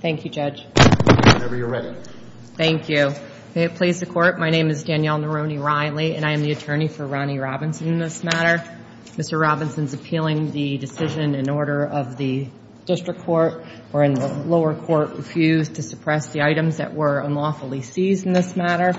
Thank you, Judge. Whenever you're ready. Thank you. May it please the Court, my name is Danielle Nerone-Riley and I am the attorney for Ronnie Robinson in this matter. Mr. Robinson is appealing the decision in order of the district court or in the lower court refused to suppress the items that were unlawfully seized in this matter.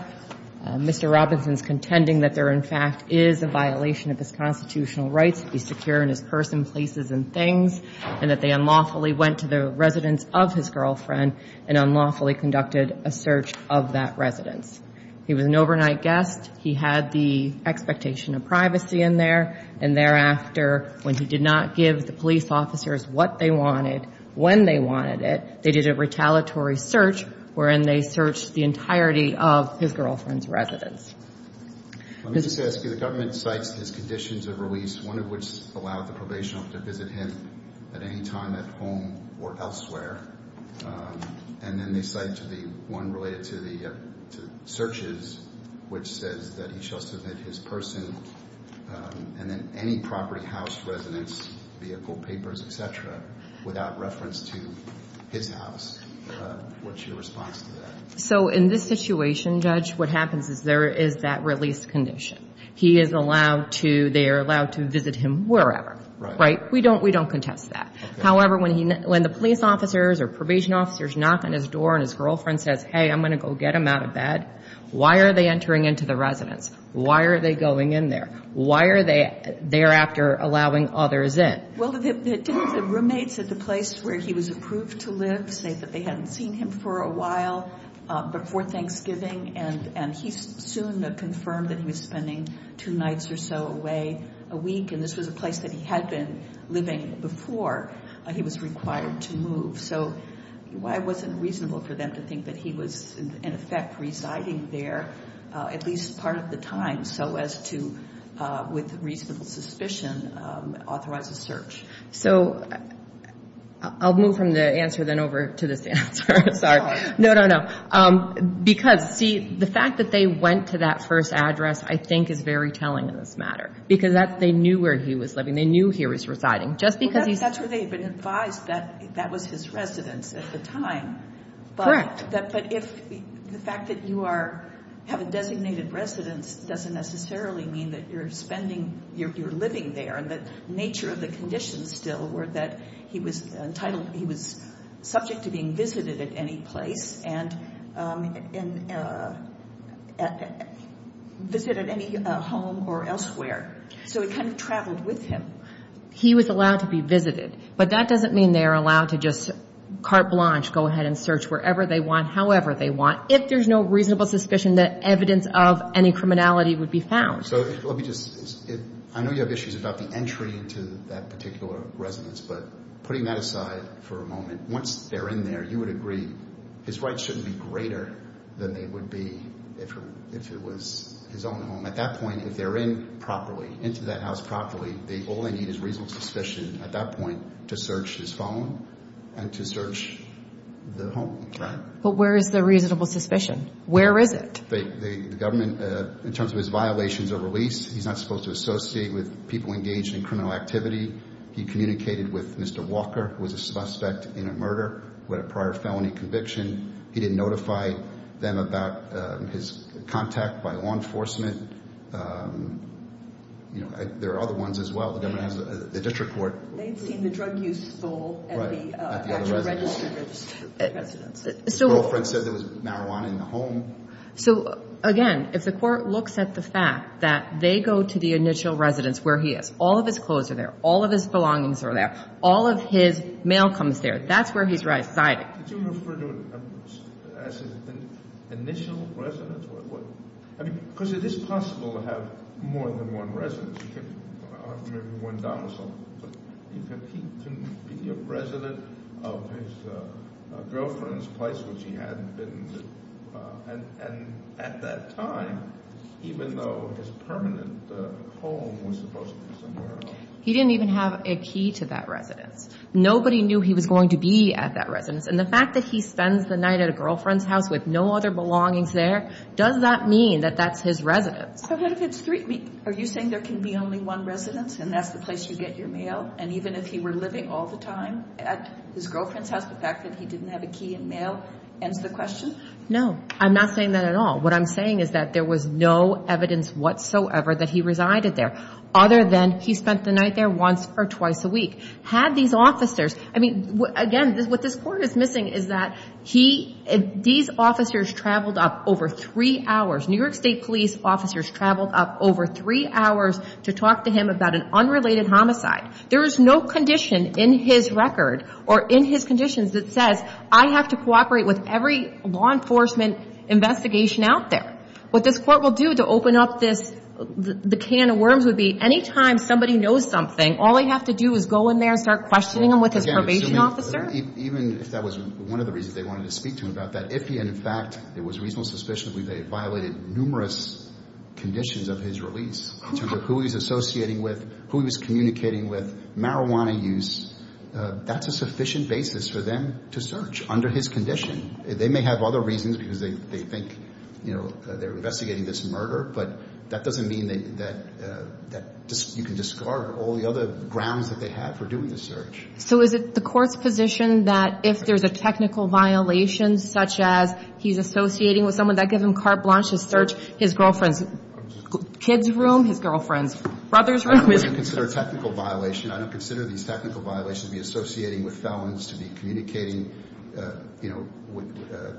Mr. Robinson's contending that there in fact is a violation of his constitutional rights to be secure in his person, places, and things, and that they unlawfully went to the residence of his girlfriend and unlawfully conducted a search of that residence. He was an overnight guest. He had the expectation of privacy in there, and thereafter, when he did not give the police officers what they wanted, when they wanted it, they did a retaliatory search wherein they searched the entirety of his girlfriend's residence. Let me just ask you, the government cites his conditions of release, one of which allowed the probation officer to visit him at any time at home or elsewhere, and then they cite one related to the searches which says that he shall submit his person and then any property, house, residence, vehicle, papers, etc. without reference to his house. What's your response to that? So in this situation, Judge, what happens is there is that release condition. He is allowed to, they are allowed to visit him wherever, right? We don't contest that. However, when the police officers or probation officers knock on his door and his girlfriend says, hey, I'm going to go get him out of bed, why are they entering into the residence? Why are they going in there? Why are they thereafter allowing others in? Well, the roommates at the place where he was approved to live say that they hadn't seen him for a while before Thanksgiving, and he soon confirmed that he was spending two nights or so away a week, and this was a place that he had been living before he was required to move. So it wasn't reasonable for them to think that he was, in effect, residing there at least part of the time so as to, with reasonable suspicion, authorize a search. So I'll move from the answer then over to this answer. Sorry. No, no, no. Because, see, the fact that they went to that first address I think is very telling in this matter because that's, they knew where he was living. They knew he was residing just because that's where they had been advised that that was his residence at the time. Correct. But if the fact that you are, have a designated residence doesn't necessarily mean that you're spending, you're living there, and the nature of the conditions still were that he was entitled, he was subject to being visited at any place and visited any home or elsewhere. So he kind of traveled with him. He was allowed to be visited, but that doesn't mean they're allowed to just carte blanche, go ahead and search wherever they want, however they want, if there's no reasonable suspicion that evidence of any criminality would be found. So let me just, I know you have issues about the entry into that particular residence, but putting that aside for a moment, once they're in there, you would agree his rights shouldn't be greater than they would be if it was his own home. At that point, if they're in properly, into that house properly, they only need his reasonable suspicion at that point to search his phone and to search the home. But where is the reasonable suspicion? Where is it? The government, in terms of his violations of release, he's not supposed to associate with people engaged in criminal activity. He communicated with Mr. Walker, who was a suspect in a murder with a prior felony conviction. He didn't notify them about his contact by law enforcement. There are other ones as well. The government has the district court. They'd seen the drug use stole at the registered residence. His girlfriend said there was marijuana in the home. So again, if the court looks at the fact that they go to the initial residence where he is, all of his clothes are there, all of his belongings are there, all of his mail comes there. That's where he's right-sided. Did you refer to it as an initial residence? Because it is possible to have more than one residence. Maybe one domicile. But he can be a resident of his girlfriend's place, which he had been at that time, even though his permanent home was supposed to be somewhere else. He didn't even have a key to that residence. Nobody knew he was going to be at that residence. And the fact that he spends the night at a girlfriend's house with no other belongings there, does that mean that that's his residence? But what if it's three? Are you saying there can be only one residence and that's the place you get your mail? And even if he were living all the time at his girlfriend's house, the fact that he didn't have a key and mail ends the question? No, I'm not saying that at all. What I'm saying is that there was no evidence whatsoever that he resided there, other than he spent the night there once or twice a week. Had these officers, I mean, again, what this court is missing is that he, these officers traveled up over three hours, New York State police officers traveled up over three hours to talk to him about an unrelated homicide. There is no condition in his record or in his conditions that says, I have to cooperate with every law enforcement investigation out there. What this court will do to open up this, the can of worms would be anytime somebody knows something, all they have to do is go in there and question him with his probation officer. Even if that was one of the reasons they wanted to speak to him about that, if he, in fact, it was reasonable suspicion that they violated numerous conditions of his release in terms of who he's associating with, who he was communicating with, marijuana use, that's a sufficient basis for them to search under his condition. They may have other reasons because they think they're investigating this murder, but that doesn't mean that you can discard all the other grounds that they have for doing the search. So is it the court's position that if there's a technical violation such as he's associating with someone, that gives him carte blanche to search his girlfriend's kids' room, his girlfriend's brother's room? I don't consider it a technical violation. I don't consider these technical violations to be associating with felons, to be communicating, you know,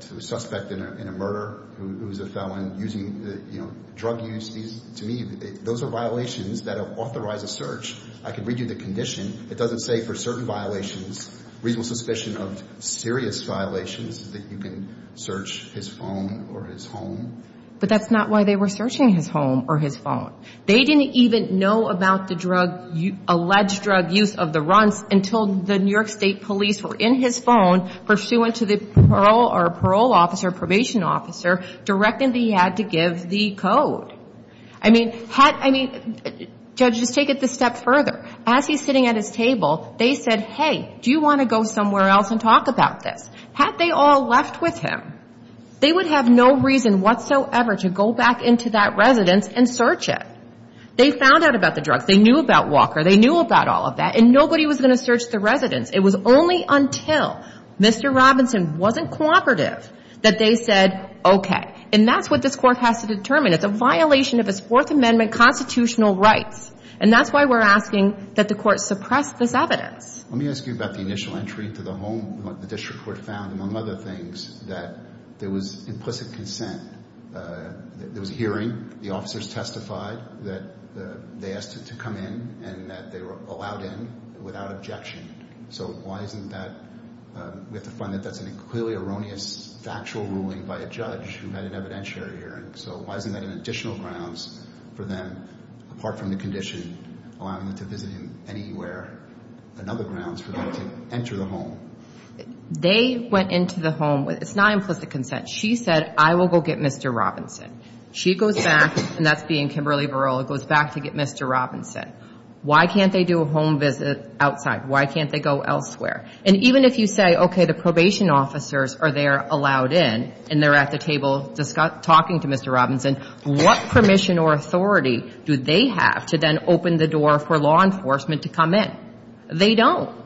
to a suspect in a murder who is a felon using, you know, drug use. To me, those are violations that have authorized a search. I can read you the condition. It doesn't say for certain violations, reasonable suspicion of serious violations, that you can search his phone or his home. But that's not why they were searching his home or his phone. They didn't even know about the drug, alleged drug use of the Runts until the New York State police were in his phone pursuant to the parole or parole officer, probation officer, directing that he had to give the code. I mean, had, I mean, Judge, just take it this step further. As he's sitting at his table, they said, hey, do you want to go somewhere else and talk about this? Had they all left with him, they would have no reason whatsoever to go back into that residence and search it. They found out about the drugs. They knew about Walker. They knew about all of that. And nobody was going to search the residence. It was only until Mr. Robinson wasn't cooperative that they said, okay. And that's what this Court has to determine. It's a violation of its Fourth Amendment constitutional rights. And that's why we're asking that the Court suppress this evidence. Let me ask you about the initial entry into the home, what the district court found, among other things, that there was implicit consent. There was a hearing. The officers testified that they asked to come in and that they were allowed in without objection. So why isn't that, we have to find that that's a clearly erroneous, factual ruling by a judge who had an evidentiary hearing. So why isn't that an additional grounds for them, apart from the condition allowing them to visit him anywhere, another grounds for them to enter the home? They went into the home with, it's not implicit consent. She said, I will go get Mr. Robinson. She goes back, and that's being Kimberly Varela, goes back to get Mr. Robinson. Why can't they do a home visit outside? Why can't they go elsewhere? And even if you say, okay, the probation officers are there, allowed in, and they're at the table talking to Mr. Robinson, what permission or authority do they have to then open the door for law enforcement to come in? They don't.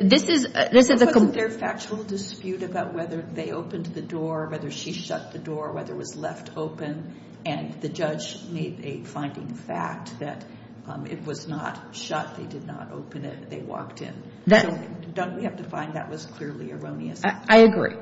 This is, this is a. Wasn't there a factual dispute about whether they opened the door, whether she shut the door, whether it was left open, and the judge made a finding fact that it was not shut. They did not open it. They walked in. Don't we have to find that was clearly erroneous? I agree.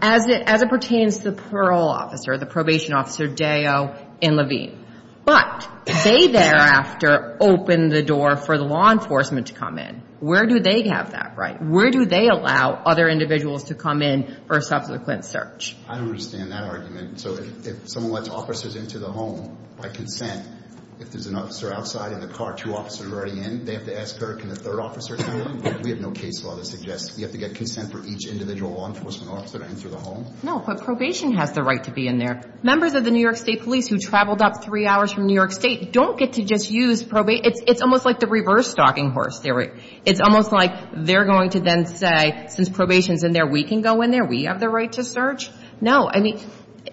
As it, as it pertains to the parole officer, the probation officer, Deo and Levine, but they thereafter opened the door for the law enforcement to come in. Where do they have that right? Where do they allow other individuals to come in for a subsequent search? I don't understand that argument. So if someone lets officers into the home by consent, if there's an officer outside in the car, two officers are already in, they have to ask her, can a third officer come in? We have no case law that suggests you have to get consent for each individual law enforcement officer to enter the home. No, but probation has the right to be in there. Members of the New York State Police who traveled up three hours from New York State don't get to just use probate. It's almost like the reverse stalking horse. It's almost like they're going to then say, since probation's in there, we can go in there. We have the right to search. No, I mean,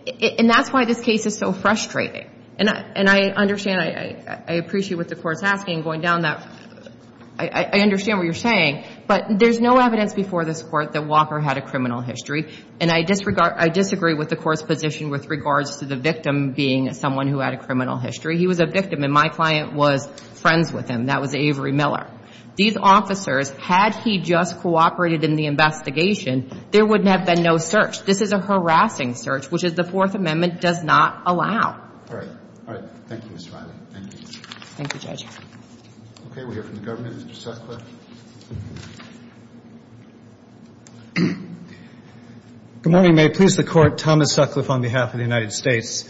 and that's why this case is so frustrating. And I, and I understand, I appreciate what the Court's asking, going down that, I understand what you're saying, but there's no evidence before this Court that Walker had a criminal history. And I disregard, I disagree with the Court's position with regards to the victim being someone who had a criminal history. He was a victim, and my client was friends with him. That was Avery Miller. These officers, had he just cooperated in the investigation, there would have been no search. This is a harassing search, which the Fourth Amendment does not allow. All right. All right. Thank you, Ms. Riley. Thank you. Thank you, Judge. Okay. We'll hear from the government. Mr. Sutcliffe. Good morning. May it please the Court. Thomas Sutcliffe on behalf of the United States.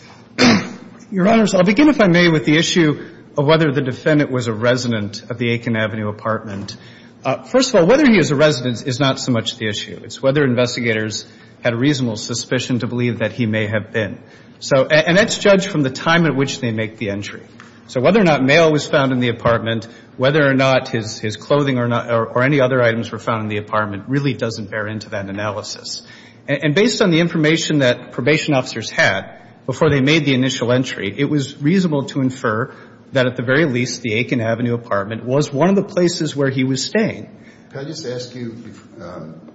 Your Honors, I'll begin, if I may, with the issue of whether the defendant was a resident of the Aiken Avenue apartment. First of all, whether he is a resident is not so much the issue. It's whether investigators had a reasonable suspicion to believe that he may have been. And that's judged from the time at which they make the entry. So whether or not mail was found in the apartment, whether or not his clothing or any other items were found in the apartment really doesn't bear into that analysis. And based on the information that probation officers had before they made the initial entry, it was reasonable to infer that at the very least, the Aiken Avenue apartment was one of the places where he was staying. Can I just ask you, and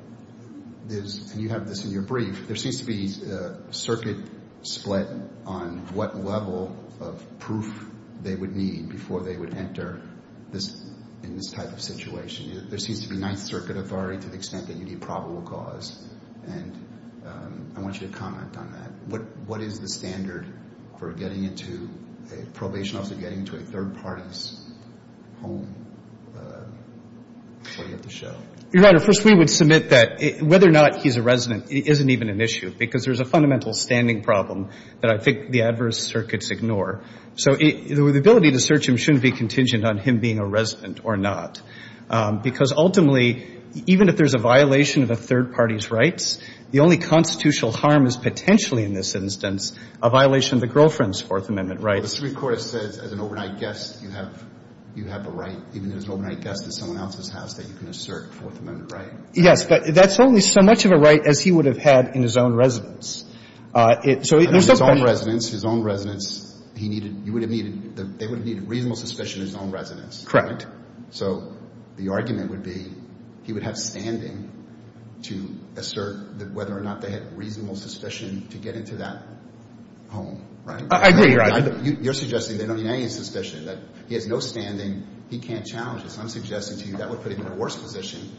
you have this in your brief, there seems to be a circuit split on what level of proof they would need before they would enter in this type of situation. There seems to be ninth circuit authority to the extent that you need probable cause. And I want you to comment on that. What is the standard for getting into, a probation officer getting into a third party's home before you have to show? Your Honor, first we would submit that whether or not he's a resident isn't even an issue. Because there's a fundamental standing problem that I think the adverse circuits ignore. So the ability to search him shouldn't be contingent on him being a resident or not. Because ultimately, even if there's a violation of a third party's rights, the only constitutional harm is potentially in this instance a violation of the girlfriend's rights. The Supreme Court has said as an overnight guest you have a right, even as an overnight guest in someone else's house, that you can assert a Fourth Amendment right. Yes, but that's only so much of a right as he would have had in his own residence. So his own residence, his own residence, he needed, you would have needed, they would have needed reasonable suspicion in his own residence. Correct. So the argument would be he would have standing to assert that whether or not they had reasonable suspicion to get into that home, right? I agree, Your Honor. You're suggesting they don't need any suspicion, that he has no standing, he can't challenge this. I'm suggesting to you that would put him in a worse position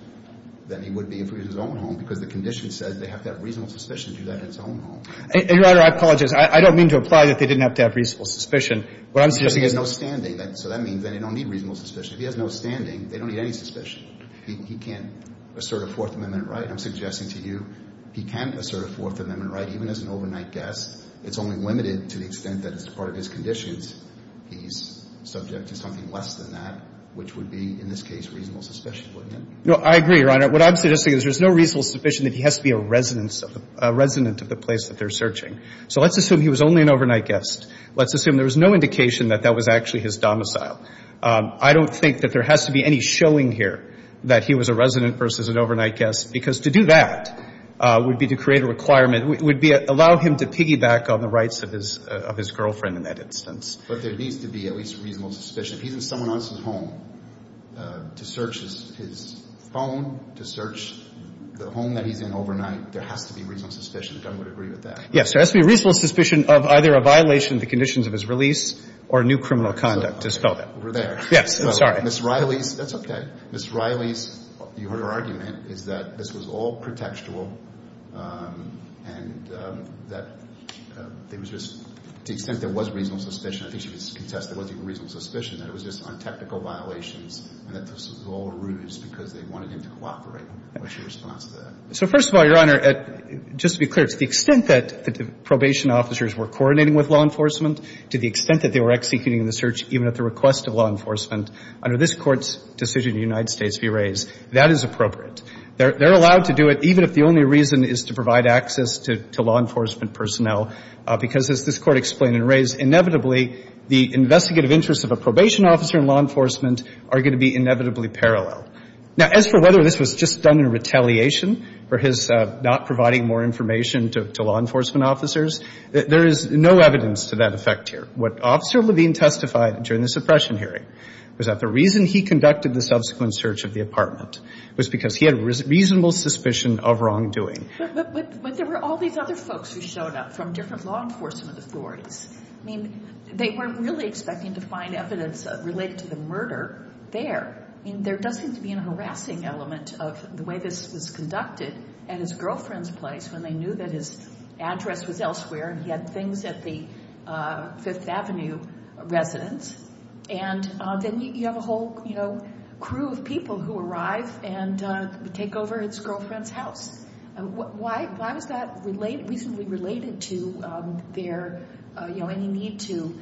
than he would be if it was his own home, because the condition says they have to have reasonable suspicion to do that in his own home. Your Honor, I apologize. I don't mean to imply that they didn't have to have reasonable suspicion. What I'm suggesting is no standing. So that means they don't need reasonable suspicion. If he has no standing, they don't need any suspicion. He can't assert a Fourth Amendment right. I'm suggesting to you he can assert a Fourth Amendment right, even as an overnight guest. It's only limited to the extent that as part of his conditions, he's subject to something less than that, which would be, in this case, reasonable suspicion, wouldn't it? No, I agree, Your Honor. What I'm suggesting is there's no reasonable suspicion that he has to be a resident of the place that they're searching. So let's assume he was only an overnight guest. Let's assume there was no indication that that was actually his domicile. I don't think that there has to be any showing here that he was a resident versus an overnight guest, because to do that would be to create a requirement. It would allow him to piggyback on the rights of his girlfriend in that instance. But there needs to be at least reasonable suspicion. If he's in someone else's home to search his phone, to search the home that he's in overnight, there has to be reasonable suspicion, if I would agree with that. Yes, there has to be reasonable suspicion of either a violation of the conditions of his release or new criminal conduct, to spell that. Over there. Yes, I'm sorry. Ms. Riley's, that's okay. Ms. Riley's, you heard her argument, is that this was all pretextual and that it was just, to the extent there was reasonable suspicion, I think she could contest there wasn't even reasonable suspicion, that it was just on technical violations and that this was all a ruse because they wanted him to cooperate. What's your response to that? So first of all, Your Honor, just to be clear, it's the extent that the probation officers were coordinating with law enforcement to the extent that they were executing the search, even at the request of law enforcement, under this Court's decision in the United States v. Reyes, that is appropriate. They're allowed to do it even if the only reason is to provide access to law enforcement personnel, because as this Court explained in Reyes, inevitably, the investigative interests of a probation officer and law enforcement are going to be inevitably parallel. Now, as for whether this was just done in retaliation for his not providing more information to law enforcement officers, there is no evidence to that effect here. What Officer Levine testified during the suppression hearing was that the reason he conducted the subsequent search of the apartment was because he had reasonable suspicion of wrongdoing. But there were all these other folks who showed up from different law enforcement authorities. I mean, they weren't really expecting to find evidence related to the murder there. I mean, there does seem to be a harassing element of the way this was conducted at his girlfriend's place when they knew that his address was elsewhere and he had things at the Fifth Avenue residence. And then you have a whole, you know, crew of people who arrive and take over his girlfriend's house. Why was that reasonably related to their, you know, any need to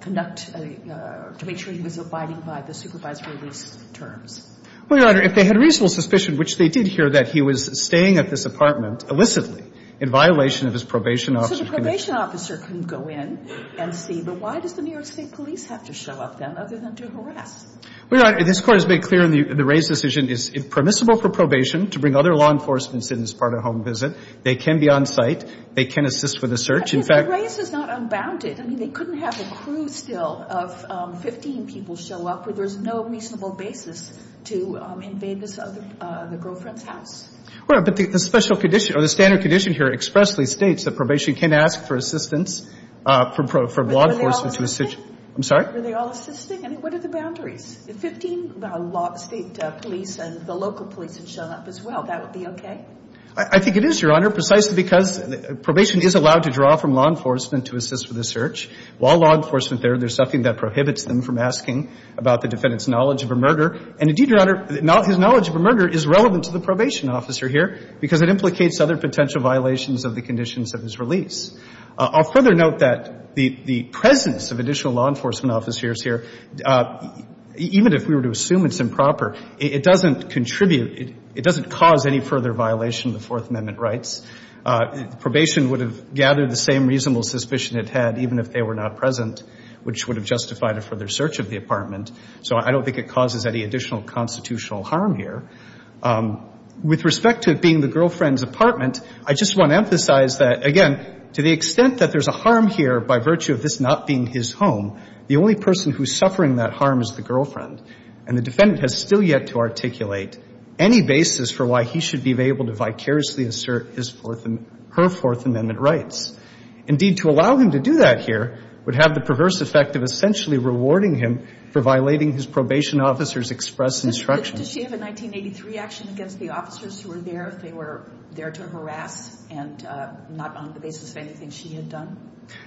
conduct, to make sure he was abiding by the supervisory lease terms? Well, Your Honor, if they had reasonable suspicion, which they did here, that he was staying at this apartment illicitly in violation of his probation officer's permission. So the probation officer can go in and see. But why does the New York State police have to show up then, other than to harass? Well, Your Honor, this Court has made clear in the Rays' decision is, if permissible for probation to bring other law enforcement incidents as part of a home visit, they can be on site. They can assist with a search. In fact — But the Rays is not unbounded. I mean, they couldn't have a crew still of 15 people show up where there's no reasonable basis to invade this other — the girlfriend's house. Well, but the special condition — or the standard condition here expressly states that probation can ask for assistance from law enforcement to assist — Were they all assisting? I'm sorry? Were they all assisting? I mean, what are the boundaries? If 15 State police and the local police had shown up as well, that would be okay? I think it is, Your Honor, precisely because probation is allowed to draw from law enforcement to assist with a search. While law enforcement there, there's something that prohibits them from asking about the defendant's knowledge of a murder. And Your Honor, his knowledge of a murder is relevant to the probation officer here because it implicates other potential violations of the conditions of his release. I'll further note that the presence of additional law enforcement officers here, even if we were to assume it's improper, it doesn't contribute — it doesn't cause any further violation of the Fourth Amendment rights. Probation would have gathered the same reasonable suspicion it had even if they were not present, which would have justified a further search of the apartment. So I don't think it causes any additional constitutional harm here. With respect to it being the girlfriend's apartment, I just want to emphasize that, again, to the extent that there's a harm here by virtue of this not being his home, the only person who's suffering that harm is the girlfriend. And the defendant has still yet to articulate any basis for why he should be able to vicariously assert his Fourth — her Fourth Amendment rights. Indeed, to allow him to do that here would have the perverse effect of essentially rewarding him for violating his probation officer's express instruction. Does she have a 1983 action against the officers who were there if they were there to harass and not on the basis of anything she had done?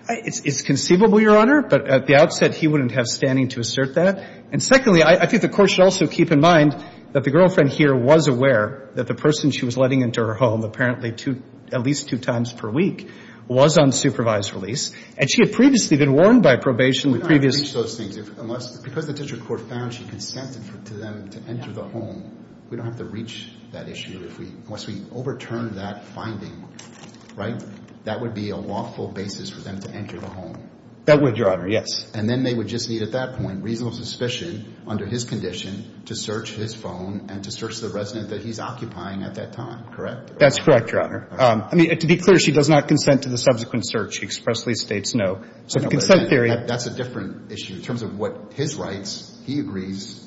It's conceivable, Your Honor. But at the outset, he wouldn't have standing to assert that. And secondly, I think the Court should also keep in mind that the girlfriend here was aware that the person she was letting into her home, apparently two — at least two times per week, was on supervised release. And she had previously been warned by probation the previous — We don't have to reach those things unless — because the district court found she consented to them to enter the home, we don't have to reach that issue unless we overturn that finding, right? That would be a lawful basis for them to enter the home. That would, Your Honor, yes. And then they would just need, at that point, reasonable suspicion under his condition to search his phone and to search the resident that he's occupying at that time, correct? That's correct, Your Honor. I mean, to be clear, she does not consent to the subsequent search. She expressly states no. So the consent theory — That's a different issue in terms of what his rights, he agrees,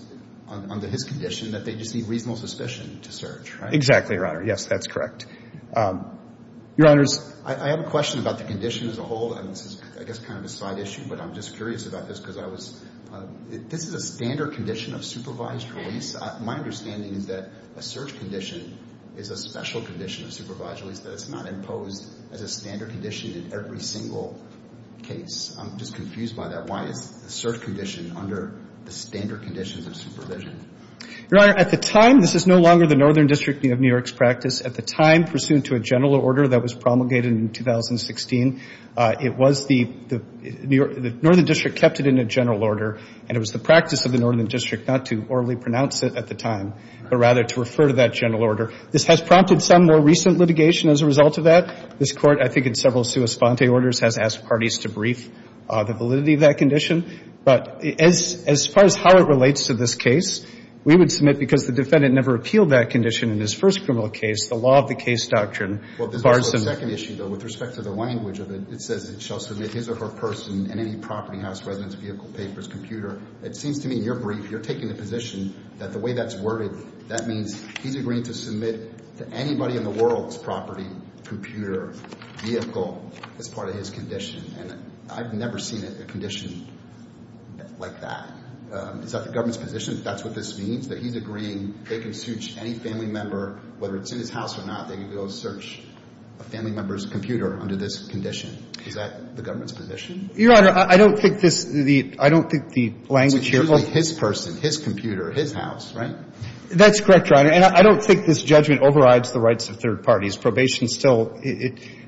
under his condition, that they just need reasonable suspicion to search, right? Exactly, Your Honor. Yes, that's correct. Your Honors — I have a question about the condition as a whole, and this is, I guess, kind of a side issue, but I'm just curious about this because I was — this is a standard condition of supervised release. My understanding is that a search condition is a special condition of supervised release, that it's not imposed as a standard condition in every single case. I'm just confused by that. Why is a search condition under the standard conditions of supervision? Your Honor, at the time — this is no longer the Northern District of New York's practice. At the time, pursuant to a general order that was promulgated in 2016, it was the — the Northern District kept it in a general order, and it was the practice of the Northern District not to orally pronounce it at the time, but rather to refer to that general order. This has prompted some more recent litigation as a result of that. This Court, I think in several sua sponte orders, has asked parties to brief the validity of that condition. But as far as how it relates to this case, we would submit, because the defendant never appealed that condition in his first criminal case, the law of the case doctrine bars him — Well, this is the second issue, though. With respect to the language of it, it says it shall submit his or her person and any property, house, residence, vehicle, papers, computer. It seems to me, in your brief, you're taking the position that the way that's worded, that means he's agreeing to submit to anybody in the world's property, computer, vehicle, as part of his condition. And I've never seen a condition like that. Is that the government's position, if that's what this means, that he's agreeing they can search any family member, whether it's in his house or not, they can go search a family member's computer under this condition? Is that the government's position? Your Honor, I don't think this — I don't think the language here — It's usually his person, his computer, his house, right? That's correct, Your Honor. And I don't think this judgment overrides the rights of third parties. Probation still —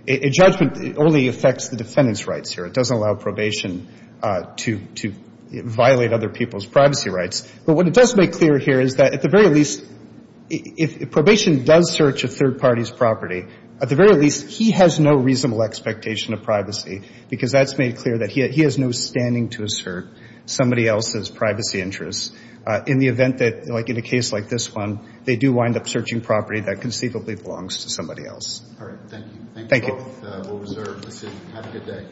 a judgment only affects the defendant's rights here. It doesn't allow probation to violate other people's privacy rights. But what it does make clear here is that, at the very least, if probation does search a third party's property, at the very least, he has no reasonable expectation of privacy, because that's made clear that he has no standing to assert somebody else's privacy interests in the event that, like in a case like this one, they do wind up searching property that conceivably belongs to somebody else. All right. Thank you. Thank you both. We'll reserve the seat. Have a good day.